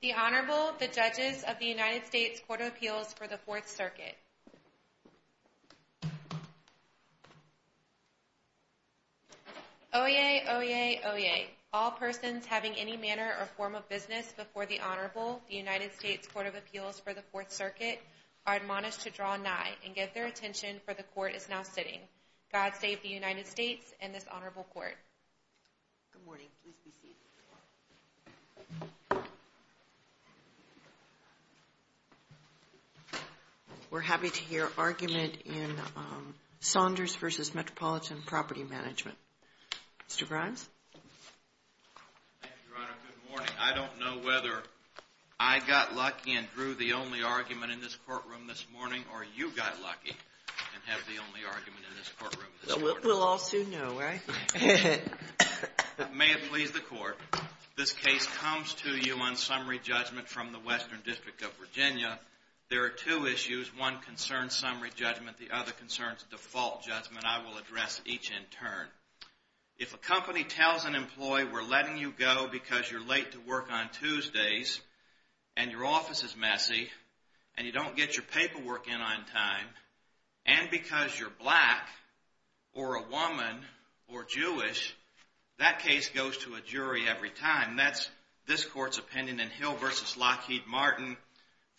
The Honorable, the Judges of the United States Court of Appeals for the Fourth Circuit Oyez, oyez, oyez. All persons having any manner or form of business before the Honorable, the United States Court of Appeals for the Fourth Circuit, are admonished to draw nigh and give their attention, for the Court is now sitting. God save the United States and this Honorable Court. Good morning. We're happy to hear argument in Saunders v. Metropolitan Property Management. Mr. Grimes? Thank you, Your Honor. Good morning. I don't know whether I got lucky and drew the only argument in this courtroom this morning or you got lucky and have the only argument in this courtroom. We'll all soon know, right? May it please the Court, this case comes to you on summary judgment from the Western District of Virginia. There are two issues. One concerns summary judgment. The other concerns default judgment. I will address each in turn. If a company tells an employee we're letting you go because you're late to work on Tuesdays and your office is messy and you don't get your paperwork in on time, and because you're black or a woman or Jewish, that case goes to a jury every time. That's this Court's opinion in Hill v. Lockheed Martin,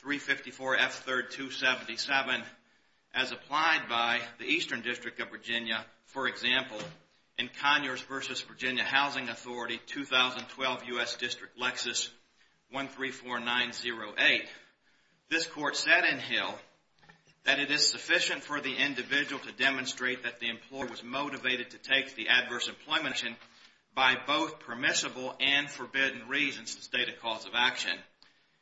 354 F. 3rd, 277, as applied by the Eastern District of Virginia, for example, in Conyers v. Virginia Housing Authority, 2012, U.S. District, Lexus, 134908. This Court said in Hill, we're letting you go, that it is sufficient for the individual to demonstrate that the employer was motivated to take the adverse employment action by both permissible and forbidden reasons to state a cause of action.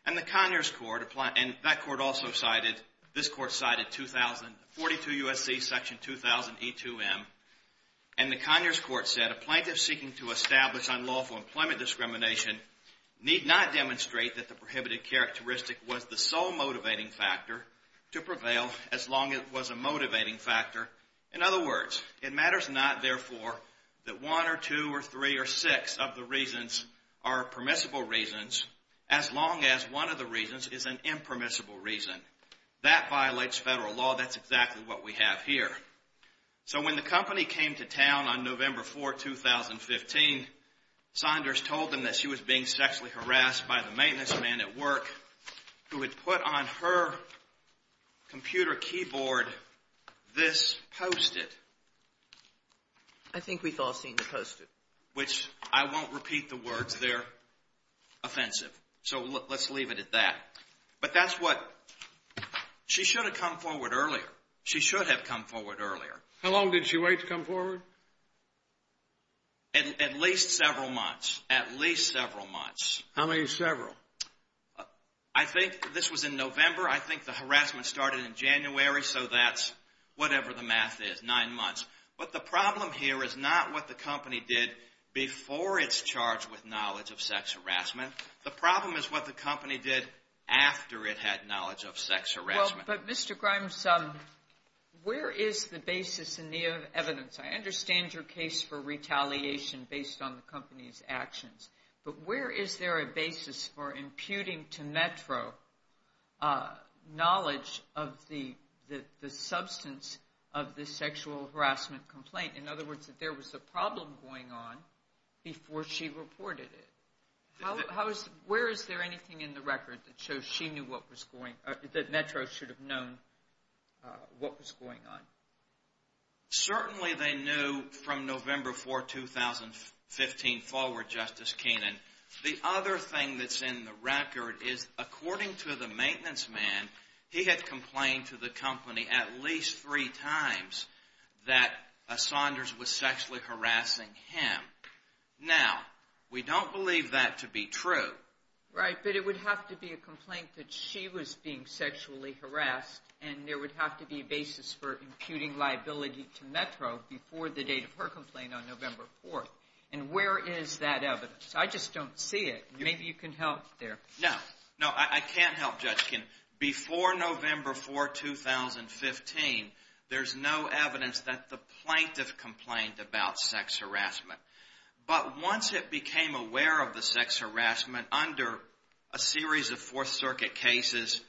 And the Conyers Court, and that Court also cited, this Court cited 42 U.S.C. section 2000 E2M, and the Conyers Court said a plaintiff seeking to establish unlawful employment discrimination need not demonstrate that the prohibited characteristic was the sole motivating factor to prevail as long as it was a motivating factor. In other words, it matters not, therefore, that one or two or three or six of the reasons are permissible reasons as long as one of the reasons is an impermissible reason. That violates federal law. That's exactly what we have here. So when the company came to town on November 4, 2015, Saunders told them that she was being sexually harassed by the who had put on her computer keyboard this Post-it. I think we've all seen the Post-it. Which, I won't repeat the words. They're offensive. So let's leave it at that. But that's what she should have come forward earlier. She should have come forward earlier. How long did she wait to come forward? At least several months. At least several months. How many several? I think this was in November. I think the harassment started in January. So that's whatever the math is. Nine months. But the problem here is not what the company did before it's charged with knowledge of sex harassment. The problem is what the company did after it had knowledge of sex harassment. But Mr. Grimes, where is the basis in the evidence? I understand your case for retaliation based on the company's actions. But where is there a basis for imputing to Metro knowledge of the substance of the sexual harassment complaint? In other words, that there was a problem going on before she reported it. Where is there anything in the record that shows she knew what was going on, that Metro should have known what was going on? Certainly they knew from November 4, 2015 forward, Justice Kenan. The other thing that's in the record is according to the maintenance man, he had complained to the company at least three times that Saunders was sexually harassing him. Now, we don't believe that to be true. Right, but it would have to be a complaint that she was being sexually harassed and there was imputing liability to Metro before the date of her complaint on November 4. And where is that evidence? I just don't see it. Maybe you can help there. No. No, I can't help, Judge Kenan. Before November 4, 2015, there's no evidence that the plaintiff complained about sex harassment. But once it became aware of the sex harassment under a series of Fourth Circuit cases,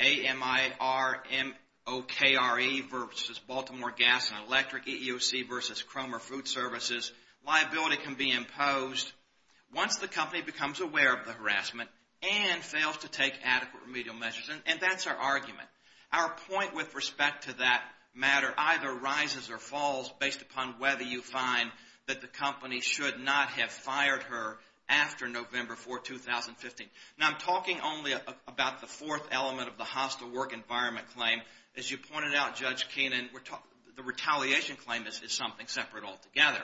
AMIRMOKRE versus Baltimore Gas and Electric, EEOC versus Cromer Food Services, liability can be imposed. Once the company becomes aware of the harassment and fails to take adequate remedial measures, and that's our argument, our point with respect to that matter either rises or falls based upon whether you find that the company should not have fired her after November 4, 2015. Now, I'm talking only about the fourth element of the hostile work environment claim. As you pointed out, Judge Kenan, the retaliation claim is something separate altogether.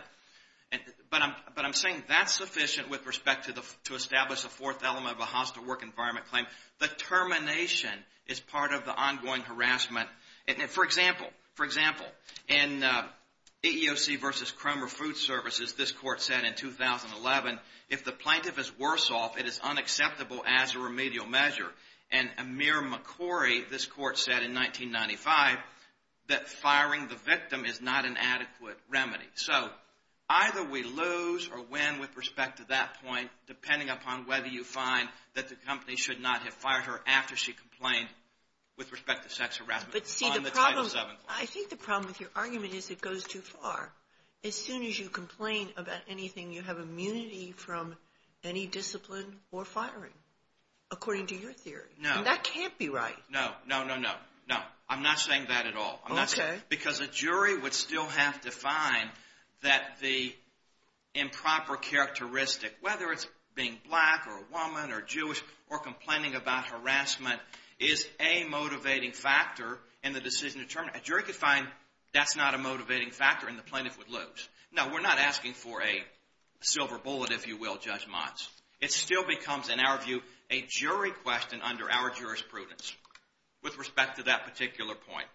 But I'm saying that's sufficient with respect to establish a fourth element of a hostile work environment claim. The termination is part of the ongoing harassment. For example, in EEOC versus Cromer Food Services, this Court said in 2011, if the plaintiff is worse off, it is unacceptable as a remedial measure. And AMIRMOKRE, this Court said in 1995, that firing the victim is not an adequate remedy. So either we lose or win with respect to that point, depending upon whether you find that the company should not have fired her after she complained with respect to sex harassment on the Title VII claim. I think the problem with your argument is it goes too far. As soon as you complain about anything, you have immunity from any discipline or firing, according to your theory. No. And that can't be right. No, no, no, no, no. I'm not saying that at all. Okay. Because a jury would still have to find that the improper characteristic, whether it's being black or a woman or Jewish or complaining about harassment, is a motivating factor in the decision to terminate. A jury could find that's not a motivating factor and the plaintiff would lose. No, we're not asking for a silver bullet, if you will, Judge Motz. It still becomes, in our view, a jury question under our jurisprudence with respect to that particular point.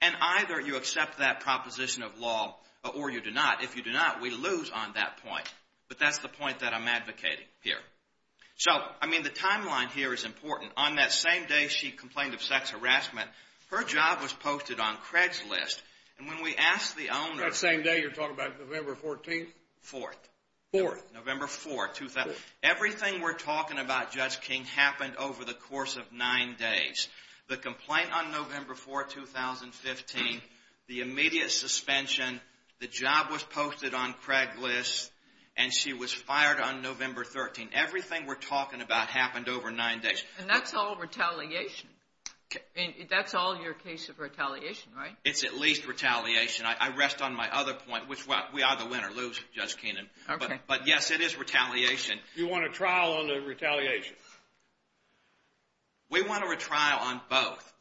And either you accept that proposition of law or you do not. If you do not, we lose on that point. But that's the point that I'm advocating here. So, I mean, the timeline here is important. On that same day she complained of sex harassment, her job was posted on Craigslist. And when we asked the owner... That same day, you're talking about November 14th? Fourth. Fourth. November 4th. Everything we're talking about, Judge King, happened over the course of nine days. The complaint on November 4th, 2015, the immediate suspension, the job was posted on Craigslist and she was fired on November 13th. Everything we're talking about happened over nine days. And that's all retaliation. That's all your case of retaliation, right? It's at least retaliation. I rest on my other point, which is we either win or lose, Judge Keenan. But yes, it is retaliation. You want a trial on the retaliation? We want a retrial on both.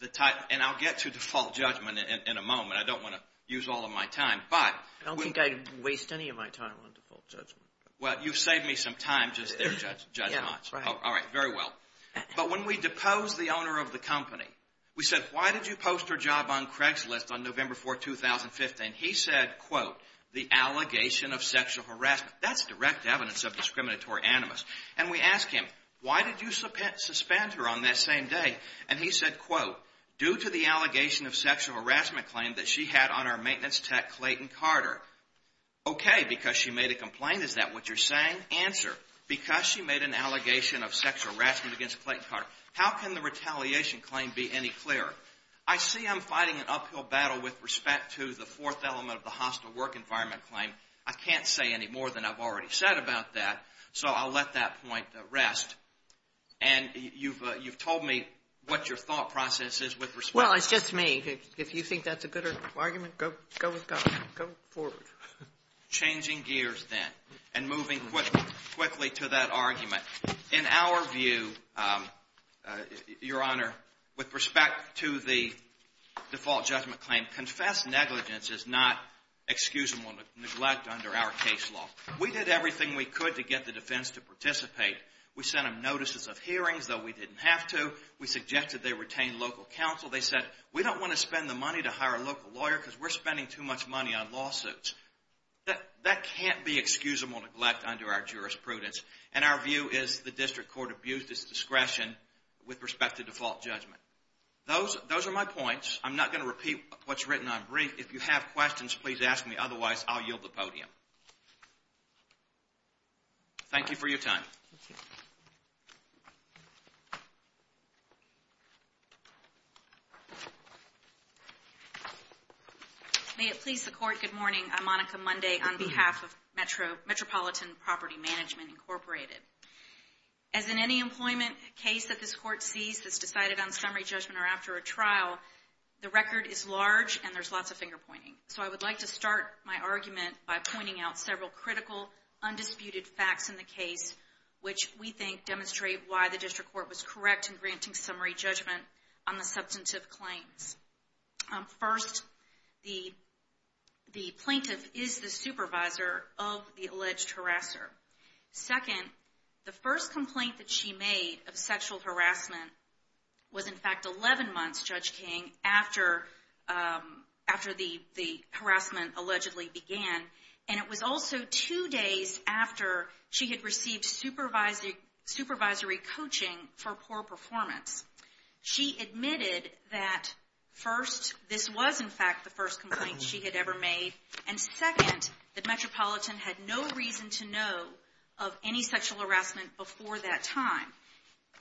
And I'll get to default judgment in a moment. I don't want to use all of my time. I don't think I'd waste any of my time on default judgment. Well, you saved me some time just there, Judge Motz. All right. Very well. But when we deposed the owner of the company, we said, why did you post her job on Craigslist on November 4th, 2015? He said, quote, the allegation of sexual harassment. That's direct evidence of discriminatory animus. And we asked him, why did you suspend her on that same day? And he said, quote, due to the allegation of sexual harassment claim that she had on our maintenance tech, Clayton Carter. Okay, because she made a complaint. Is that what you're saying? In answer, because she made an allegation of sexual harassment against Clayton Carter, how can the retaliation claim be any clearer? I see I'm fighting an uphill battle with respect to the fourth element of the hostile work environment claim. I can't say any more than I've already said about that. So I'll let that point rest. And you've told me what your thought process is with respect to that. Well, it's just me. If you think that's a good argument, go forward. Changing gears then and moving quickly to that argument. In our view, Your Honor, with respect to the default judgment claim, confessed negligence is not excusable neglect under our case law. We did everything we could to get the defense to participate. We sent them notices of hearings, though we didn't have to. We suggested they retain local counsel. They said, we don't want to spend the money to hire a local lawyer because we're spending too much money on lawsuits. That can't be excusable neglect under our jurisprudence. And our view is the district court abused its discretion with respect to default judgment. Those are my points. I'm not going to repeat what's written on brief. If you have questions, please ask me. Otherwise, I'll yield the podium. Thank you for your time. May it please the court, good morning. I'm Monica Monday on behalf of Metropolitan Property Management, Incorporated. As in any employment case that this court sees that's decided on summary judgment or after a trial, the record is large and there's lots of finger pointing. So I would like to start my argument by pointing out several critical undisputed facts in the case which we think demonstrate why the district court was correct in granting summary judgment on the substantive claims. First, the plaintiff is the supervisor of the alleged harasser. Second, the first complaint that she made of sexual harassment was in fact 11 months, Judge King, after the harassment allegedly began. And it was also two days after she had received supervisory coaching for poor performance. She admitted that first, this was in fact the first complaint she had ever made. And second, the Metropolitan had no reason to know of any sexual harassment before that time.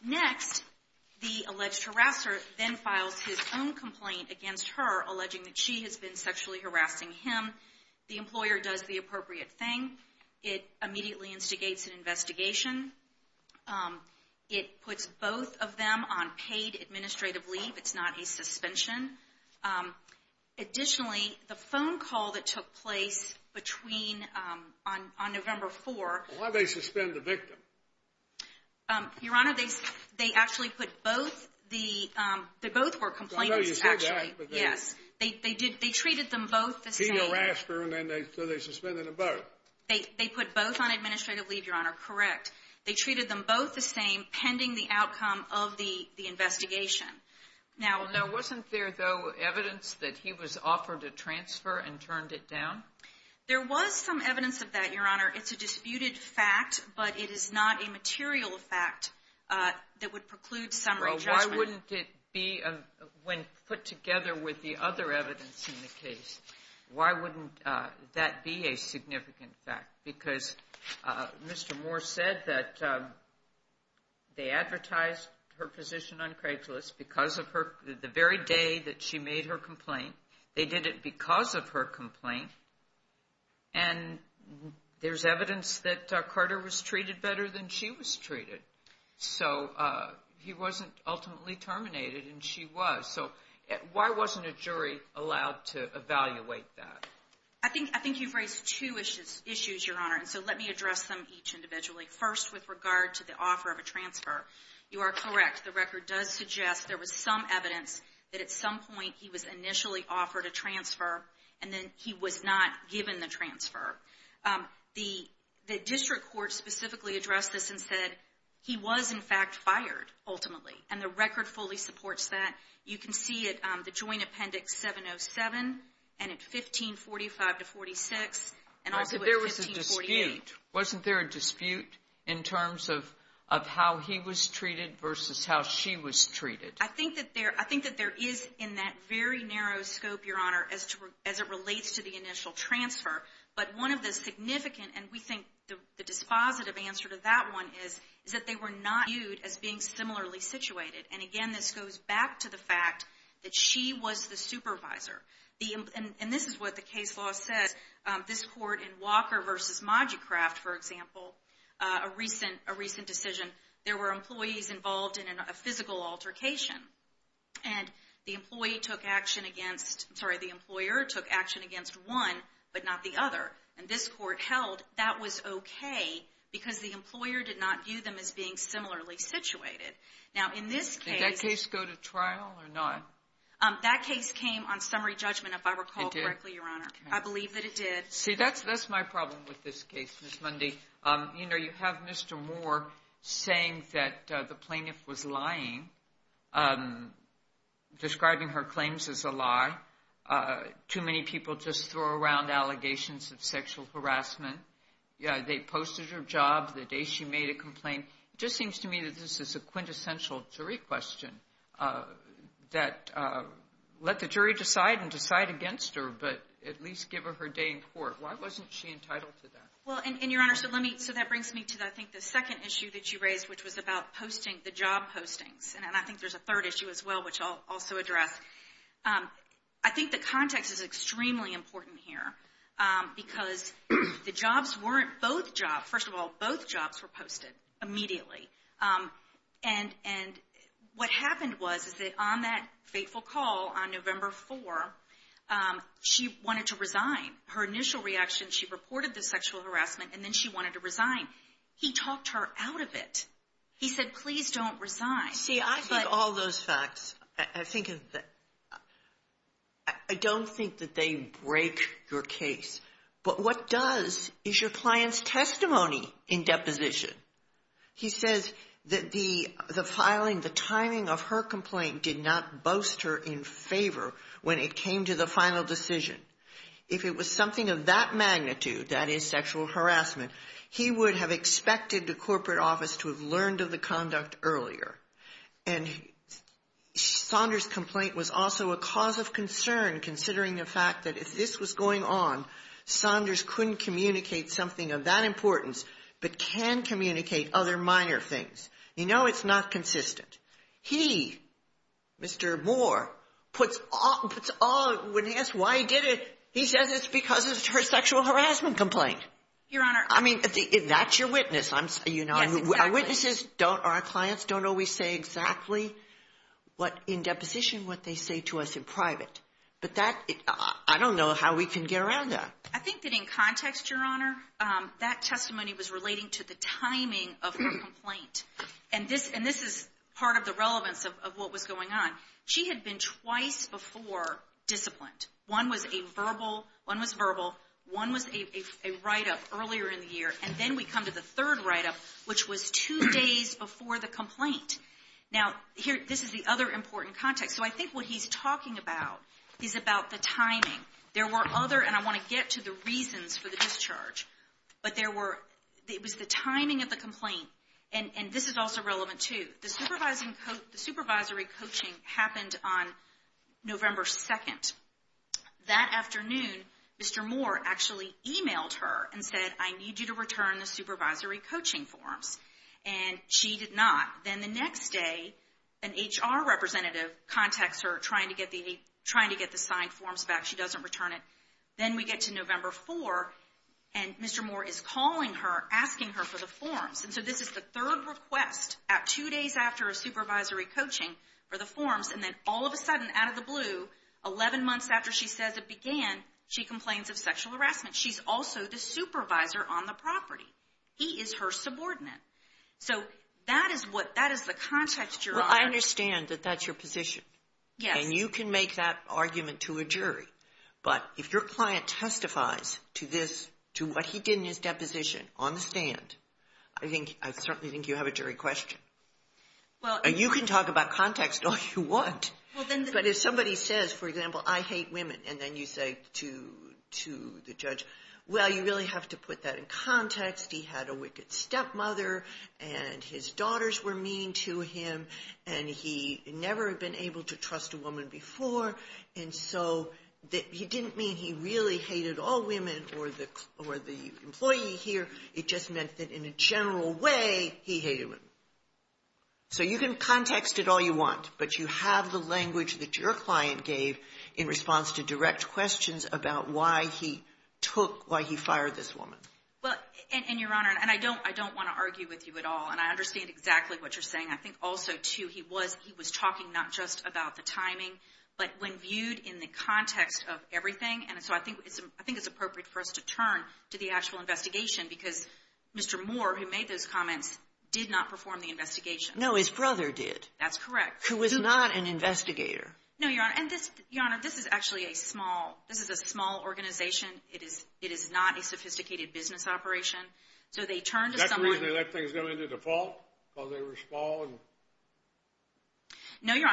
Next, the alleged harasser then files his own complaint against her alleging that she has been sexually harassing him. The employer does the appropriate thing. It immediately instigates an investigation. It puts both of them on paid administrative leave. It's not a suspension. Additionally, the phone call that took place between, on November 4th. Why did they suspend the victim? Your Honor, they actually put both the, they both were complainants actually. I know you said that. Yes. They treated them both the same. He harassed her and then they suspended them both. They put both on administrative leave, Your Honor. Correct. They treated them both the same pending the outcome of the investigation. Now, wasn't there though evidence that he was offered a transfer and turned it down? There was some evidence of that, Your Honor. It's a disputed fact, but it is not a material fact that would preclude summary judgment. Why wouldn't it be when put together with the other evidence in the case, why wouldn't that be a significant fact? Because Mr. Moore said that they advertised her position on Craigslist because of her, the very day that she made her complaint. They did it because of her complaint. And there's evidence that Carter was treated better than she was treated. So, he wasn't ultimately terminated and she was. So, why wasn't a jury allowed to evaluate that? I think you've raised two issues, Your Honor. So, let me address them each individually. First, with regard to the offer of a transfer. You are correct. The record does suggest there was some evidence that at some point he was initially offered a transfer and then he was not given the The district court specifically addressed this and said he was, in fact, fired ultimately. And the record fully supports that. You can see it, the joint appendix 707, and at 1545 to 46, and also at 1548. But there was a dispute. Wasn't there a dispute in terms of how he was treated versus how she was treated? I think that there is in that very narrow scope, Your Honor, as it relates to the initial transfer. But one of the significant, and we think the dispositive answer to that one is, is that they were not viewed as being similarly situated. And again, this goes back to the fact that she was the supervisor. And this is what the case law says. This court in Walker v. Modgicraft, for example, a recent decision, there were employees involved in a physical altercation. And the employee took action against, I'm sorry, the employer took action against one, but not the other. And this court held that was okay because the employer did not view them as being similarly situated. Now, in this case... Did that case go to trial or not? That case came on summary judgment, if I recall correctly, Your Honor. I believe that it did. See, that's my problem with this case, Ms. Mundy. You know, you have Mr. Moore saying that the plaintiff was lying, describing her claims as a lie. Too many people just throw around allegations of sexual harassment. They posted her job the day she made a complaint. It just seems to me that this is a quintessential jury question that let the jury decide and decide against her, but at least give her her day in court. Why wasn't she entitled to that? Well, and Your Honor, so that brings me to, I think, the second issue that you raised, which was about posting the job postings. And I think there's a third issue as well, which I'll also address. I think the context is extremely important here because the jobs weren't both jobs. First of all, both jobs were posted immediately. And what happened was, is that on that fateful call on November 4, she wanted to resign. Her initial reaction, she reported the sexual harassment and then she wanted to resign. He talked her out of it. He said, please don't resign. See, I think all those facts, I don't think that they break your case. But what does is your client's testimony in deposition. He says that the filing, the timing of her complaint did not boast her in favor when it came to the final decision. If it was something of that magnitude, that is sexual harassment, he would have expected the corporate office to have learned of the conduct earlier. And Saunders' complaint was also a cause of concern considering the fact that if this was going on, Saunders couldn't communicate something of that importance but can communicate other minor things. You know it's not consistent. He, Mr. Moore, puts all, when asked why he did it, he says it's because of her sexual harassment complaint. Your Honor. I mean, that's your witness. Our witnesses don't, our clients don't always say exactly in deposition what they say to us in private. But that, I don't know how we can get around that. I think that in context, Your Honor, that testimony was relating to the timing of her complaint. And this is part of the relevance of what was going on. She had been twice before disciplined. One was a verbal, one was verbal, one was a write-up earlier in the year and then we come to the third write-up which was two days before the complaint. Now, this is the other important context. So I think what he's talking about is about the timing. There were other, and I want to get to the reasons for the discharge, but there were, it was the timing of the complaint and this is also relevant too. The supervisory coaching happened on November 2nd. That afternoon, Mr. Moore actually emailed her and said, I need you to return the supervisory coaching forms. And she did not. Then the next day, an HR representative contacts her trying to get the signed forms back. She doesn't return it. Then we get to November 4 and Mr. Moore is calling her, asking her for the forms. And so this is the third request at two days after a supervisory coaching for the forms and then all of a sudden, out of the blue, 11 months after she says it began, she complains of sexual harassment. She's also the supervisor on the property. He is her subordinate. So that is the context you're on. I understand that that's your position. Yes. And you can make that argument to a jury. But if your client testifies to this, to what he did in his deposition on the stand, I certainly think you have a jury question. And you can talk about context all you want. But if somebody says, for example, I hate women, and then you say to the judge, well, you really have to put that in context. He had a wicked stepmother and his daughters were mean to him and he never had been able to trust a woman before. And so he didn't mean he really hated all women or the employee here. It just meant that in a general way, he hated women. So you can context it all you want. But you have the language that your client gave in response to direct questions about why he took, why he fired this woman. And, Your Honor, and I don't want to argue with you at all. And I understand exactly what you're saying. I think also, too, he was talking not just about the timing, but when viewed in the context of everything. And so I think it's appropriate for us to turn to the actual investigation, because Mr. Moore, who made those comments, did not perform the investigation. No, his brother did. That's correct. Who was not an investigator. No, Your Honor. And, Your Honor, this is actually a small, this is a small organization. It is not a sophisticated business operation. So they turned to somebody... Is that the reason they let things go into default? Because they were small and didn't care about it? No, Your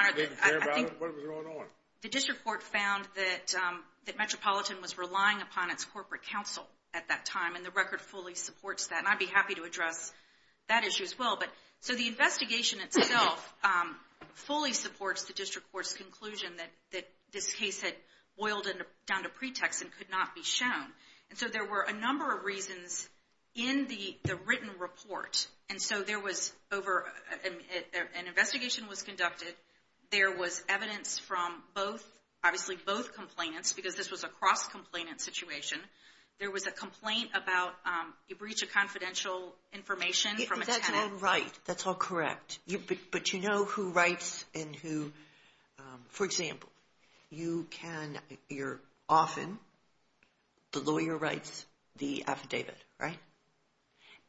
Honor, I think... What was going on? The District Court found that Metropolitan was relying upon its corporate counsel at that time. And the record fully supports that. And I'd be happy to address that issue as well. So the investigation itself fully supports the District Court's conclusion that this case had boiled down to pretext and could not be shown. And so there were a number of reasons in the written report. And so there was over... An investigation was conducted. There was evidence from both, obviously both complainants, because this was a cross-complainant situation. There was a complaint about a breach of confidential information from a tenant. That's all right. That's all correct. But you know who writes and who... For example, you can... You're often... The lawyer writes the affidavit, right?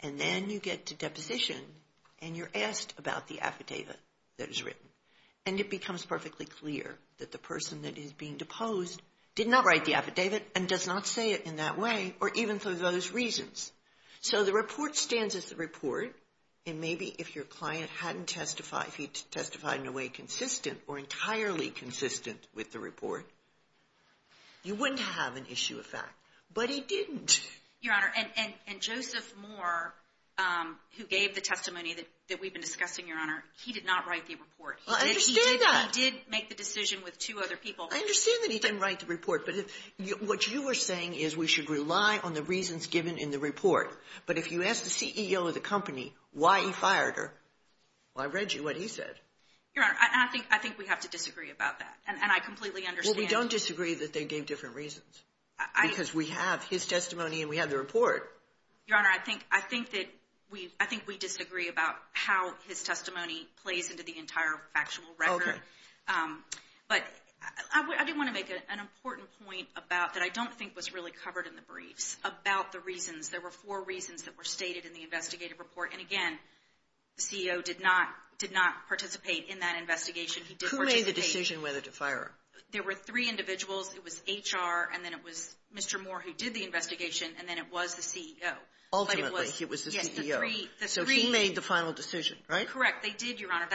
And then you get to deposition and you're asked about the affidavit that is written. And it becomes perfectly clear that the person that is being deposed did not write the affidavit and does not say it in that way or even for those reasons. So the report stands as the report. And maybe if your client hadn't testified, if he testified in a way consistent or entirely consistent with the report, you wouldn't have an issue of fact. But he didn't. Your Honor, and Joseph Moore, who gave the testimony that we've been discussing, Your Honor, he did not write the report. I understand that. He did make the decision with two other people. I understand that he didn't write the report, but what you are saying is we should rely on the reasons given in the report. But if you ask the CEO of the company why he fired her, well, I read you what he said. Your Honor, I think we have to disagree about that. And I completely understand. Well, we don't disagree that they gave different reasons. Because we have his testimony and we have the report. Your Honor, I think we disagree about how his testimony plays into the entire factual record. Okay. But I do want to make an important point that I don't think was really covered in the briefs about the reasons. There were four reasons that were stated in the investigative report. And again, the CEO did not participate in that investigation. Who made the decision whether to fire her? There were three individuals. It was HR, and then it was Mr. Moore who did the investigation, and then it was the CEO. Ultimately, it was the CEO. So he made the final decision, right? Correct. They did, Your Honor.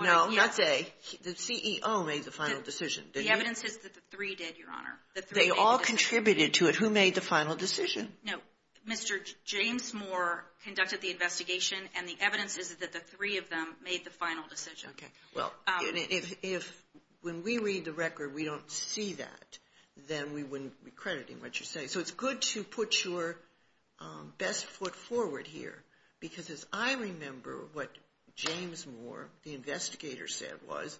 No, that's A. The CEO made the final decision. The evidence is that the three did, Your Honor. They all contributed to it. Who made the final decision? No, Mr. James Moore conducted the investigation, and the evidence is that the three of them made the final decision. If when we read the record we don't see that, then we wouldn't be crediting what you're saying. So it's good to put your best foot forward here because as I remember what James Moore, the investigator, said was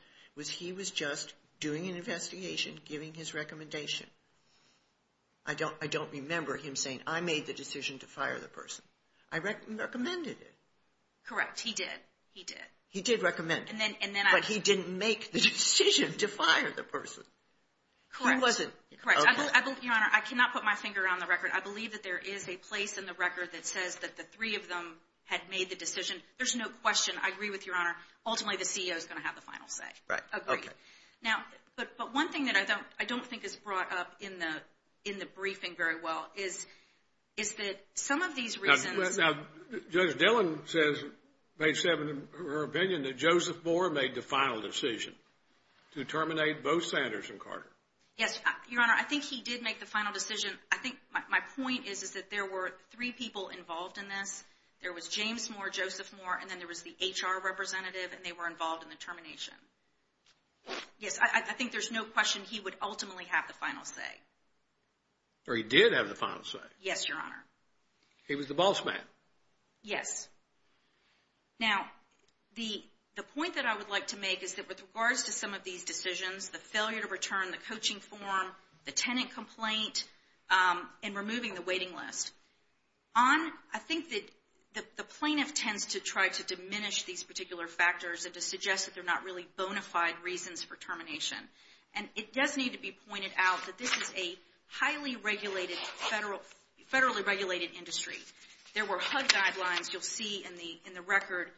he was just doing an investigation, giving his recommendation. I don't remember him saying, I made the decision to fire the person. I recommended it. Correct. He did. He did recommend it. But he didn't make the decision to fire the person. Correct. I cannot put my finger on the record. I believe that there is a place in the record that says that the three of them had made the decision. There's no question. I agree with Your Honor. Ultimately, the CEO is going to have the final say. Agreed. But one thing that I don't think is brought up in the briefing very well is that some of these reasons Judge Dillon says, page 7 of her opinion, that Joseph Moore made the final decision to terminate both Sanders and Carter. Yes, Your Honor. I think he did make the final decision. My point is that there were three people involved in this. There was James Moore, Joseph Moore, and then there was the HR representative and they were involved in the termination. Yes, I think there's no question he would ultimately have the final say. Or he did have the final say. Yes, Your Honor. He was the boss man. Yes. Now, the point that I would like to make is that with regards to some of these decisions, the failure to return the coaching form, the tenant complaint, and removing the waiting list, I think that the plaintiff tends to try to diminish these particular factors and to suggest that they're not really bona fide reasons for termination. It does need to be pointed out that this is a highly regulated, federally regulated industry. There were HUD guidelines, you'll see in the record,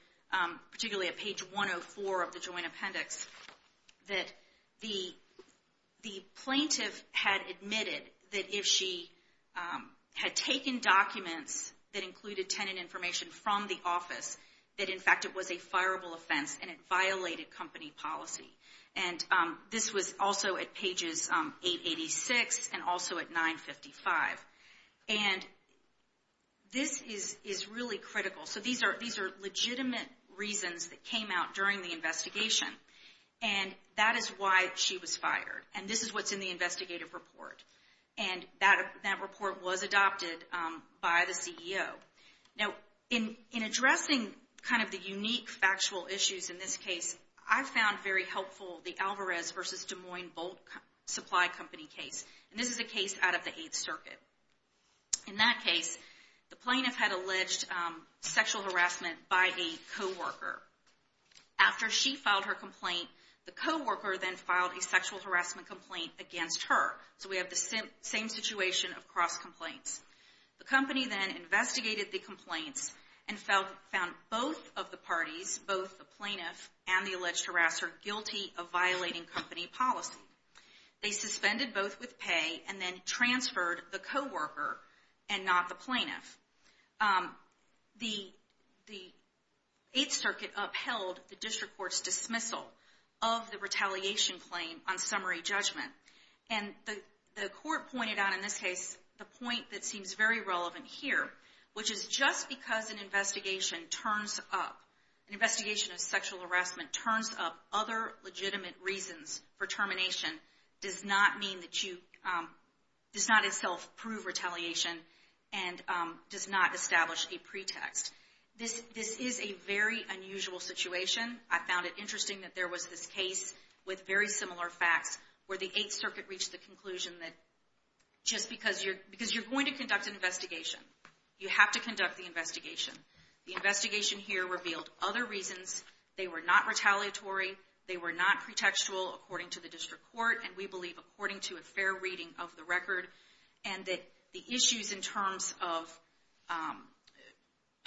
particularly at page 104 of the Joint Appendix, that the plaintiff had admitted that if she had taken documents that included tenant information from the office that in fact it was a fireable offense and it violated company policy. And this was also at pages 886 and also at 955. And this is really critical. So these are legitimate reasons that came out during the investigation. And that is why she was fired. And this is what's in the investigative report. And that report was adopted by the CEO. Now, in addressing kind of the unique factual issues in this case, I found very helpful the Alvarez vs. Des Moines Bolt Supply Company case. And this is a case out of the 8th Circuit. In that case, the plaintiff had alleged sexual harassment by a co-worker. After she filed her complaint, the co-worker then filed a sexual harassment complaint against her. So we have the same situation across complaints. The company then investigated the complaints and found both of the parties, both the plaintiff and the alleged harasser, guilty of violating company policy. They suspended both with pay and then transferred the co-worker and not the plaintiff. The 8th Circuit upheld the District Court's dismissal of the retaliation claim on summary judgment. And the court pointed out in this case the point that seems very relevant here, which is just because an investigation turns up, an investigation of sexual harassment turns up other legitimate reasons for termination, does not mean that you, does not itself prove retaliation and does not establish a pretext. This is a very unusual situation. I found it interesting that there was this case with very similar facts where the 8th Circuit reached the conclusion that just because you're going to conduct an investigation, you have to conduct the investigation. The investigation here revealed other reasons, they were not retaliatory, they were not pretextual according to the District Court and we believe according to a fair reading of the record and that the issues in terms of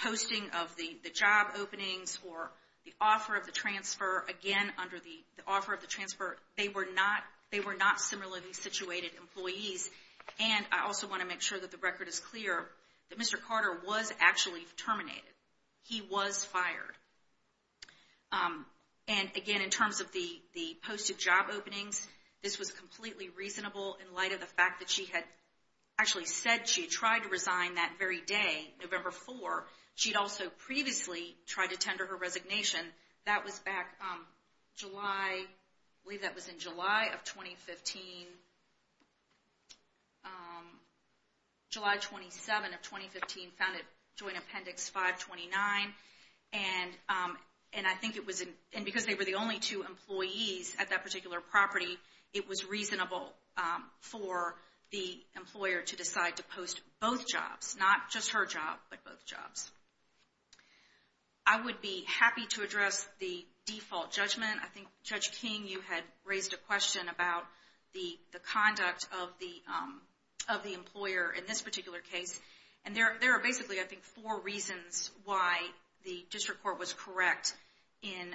posting of the job openings or the offer of the transfer, they were not similarly situated employees and I also want to make sure that the record is clear that Mr. Carter was actually terminated. He was fired. And again, in terms of the posted job openings, this was completely reasonable in light of the fact that she had actually said she tried to resign that very day, November 4, she'd also previously tried to tender her resignation, that was back July, I believe that was in July of 2015 July 27 of 2015 found it Joint Appendix 529 and I think it was, and because they were the only two employees at that particular property, it was reasonable for the employer to decide to post both jobs not just her job, but both jobs. I would be happy to address the default judgment. I think Judge King, you had raised a question about the conduct of the employer in this particular case and there are basically four reasons why the District Court was correct in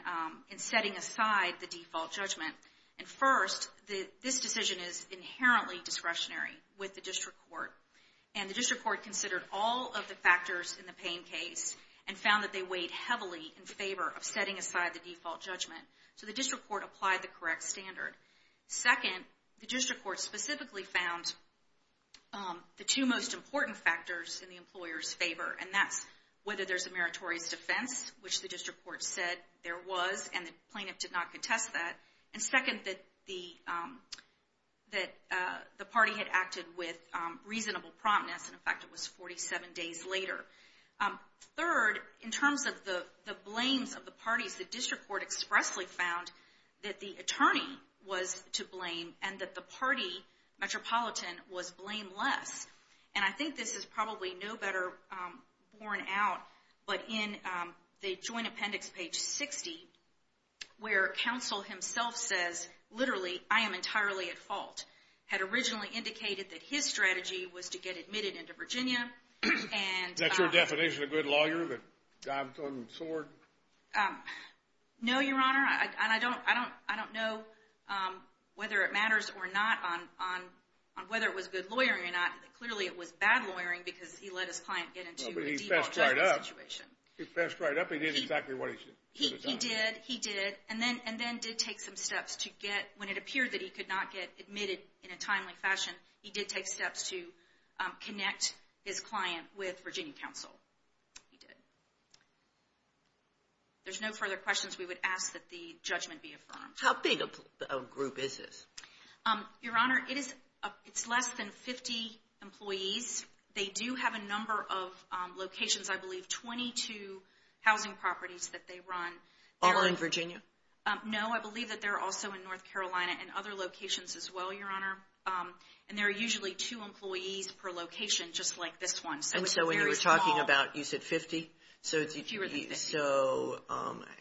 setting aside the default judgment. And first, this decision is inherently discretionary with the District Court and the District Court considered all of the factors in the Payne case and found that they weighed heavily in favor of setting aside the default judgment so the District Court applied the correct standard. Second, the District Court specifically found the two most important factors in the employer's favor and that's whether there's a meritorious defense, which the District Court said there was and the plaintiff did not contest that. And second, that the party had acted with reasonable promptness and in fact it was 47 days later. Third, in terms of the blames of the parties, the District Court expressly found that the attorney was to blame and that the party, Metropolitan, was blameless. And I think this is probably no better borne out, but in the Joint Appendix, page 60, where counsel himself says literally I am entirely at fault had originally indicated that his strategy was to get admitted into Virginia and... Is that your definition of a good lawyer that dives on the sword? No, Your Honor. And I don't know whether it matters or not on whether it was good lawyering or not. Clearly it was bad lawyering because he let his client get into a default judgment situation. No, but he fessed right up. He fessed right up. He did exactly what he should have done. He did. He did. And then did take some steps to get, when it appeared that he could not get admitted in a timely fashion, he did take steps to connect his client with Virginia counsel. He did. There's no further questions. We would ask that the judgment be affirmed. How big a group is this? Your Honor, it is less than 50 employees. They do have a number of locations. I believe 22 housing properties that they run. All in Virginia? No, I believe that they're also in North Carolina and other And there are usually two employees per location, just like this one. And so when you were talking about, you said 50? Fewer than 50.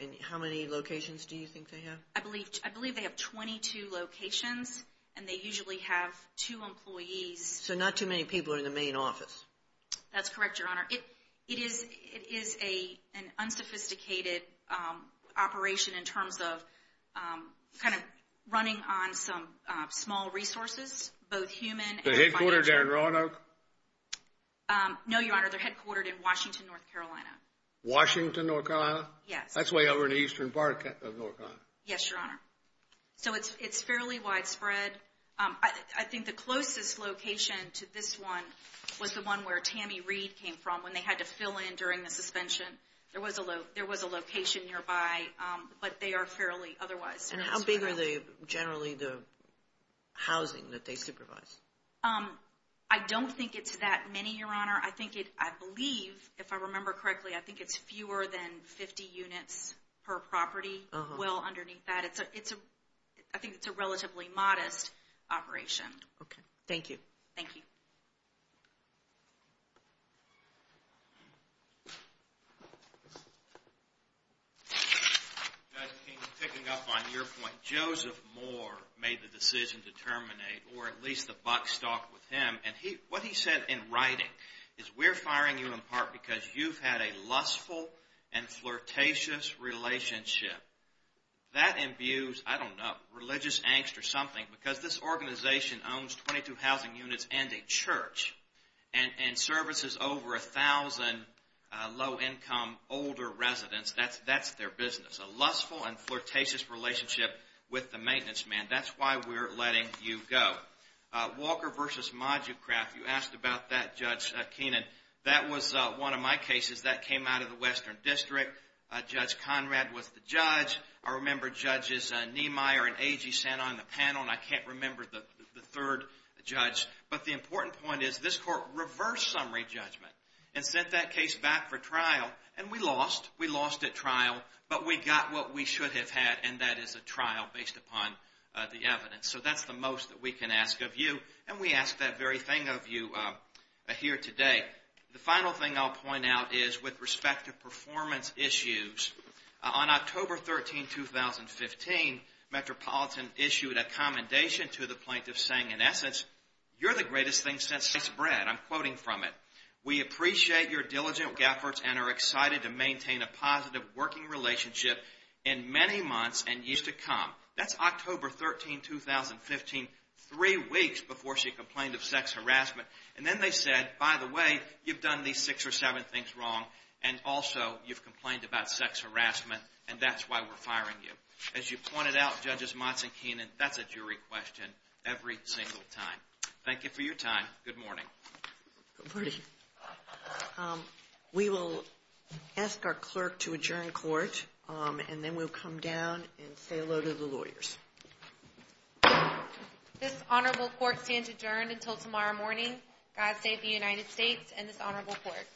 And how many locations do you think they have? I believe they have 22 locations and they usually have two employees. So not too many people are in the main office? That's correct, Your Honor. It is an unsophisticated operation in terms of kind of running on some small resources both human and... The headquartered there in Roanoke? No, Your Honor. They're headquartered in Washington, North Carolina. Washington, North Carolina? Yes. That's way over in Eastern Park, North Carolina. Yes, Your Honor. So it's fairly widespread. I think the closest location to this one was the one where Tammy Reed came from when they had to fill in during the suspension. There was a location nearby but they are fairly otherwise. And how big are they generally the housing that they supervise? I don't think it's that many, Your Honor. I believe, if I remember correctly, I think it's fewer than 50 units per property. Well underneath that. I think it's a relatively modest operation. Okay. Thank you. Thank you. Judge Keene, picking up on your point, Joseph Moore made the decision to terminate or at least the buck stopped with him and what he said in writing is we're firing you in part because you've had a lustful and flirtatious relationship. That imbues, I don't know, religious angst or something because this organization owns 22 housing units and a church. And services over 1,000 low-income older residents. That's their business. A lustful and flirtatious relationship with the maintenance man. That's why we're letting you go. Walker versus Moducraft, you asked about that, Judge Keene. That was one of my cases that came out of the Western District. Judge Conrad was the judge. I remember Judges Niemeyer and Agee sat on the panel and I can't remember the third judge, but the important point is this court reversed summary judgment and sent that case back for trial and we lost. We lost at trial but we got what we should have had and that is a trial based upon the evidence. So that's the most we can ask of you and we ask that very thing of you here today. The final thing I'll point out is with respect to performance issues, on October 13, 2015 Metropolitan issued a You're the greatest thing since bread. I'm quoting from it. We appreciate your diligent efforts and are excited to maintain a positive working relationship in many months and years to come. That's October 13, 2015 three weeks before she complained of sex harassment and then they said by the way, you've done these six or seven things wrong and also you've complained about sex harassment and that's why we're firing you. As you pointed out, Judges Motz and Keenan, that's a jury question every single time. Thank you for your time. Good morning. Good morning. We will ask our clerk to adjourn court and then we'll come down and say hello to the lawyers. This honorable court stands adjourned until tomorrow morning. God save the United States and this honorable court.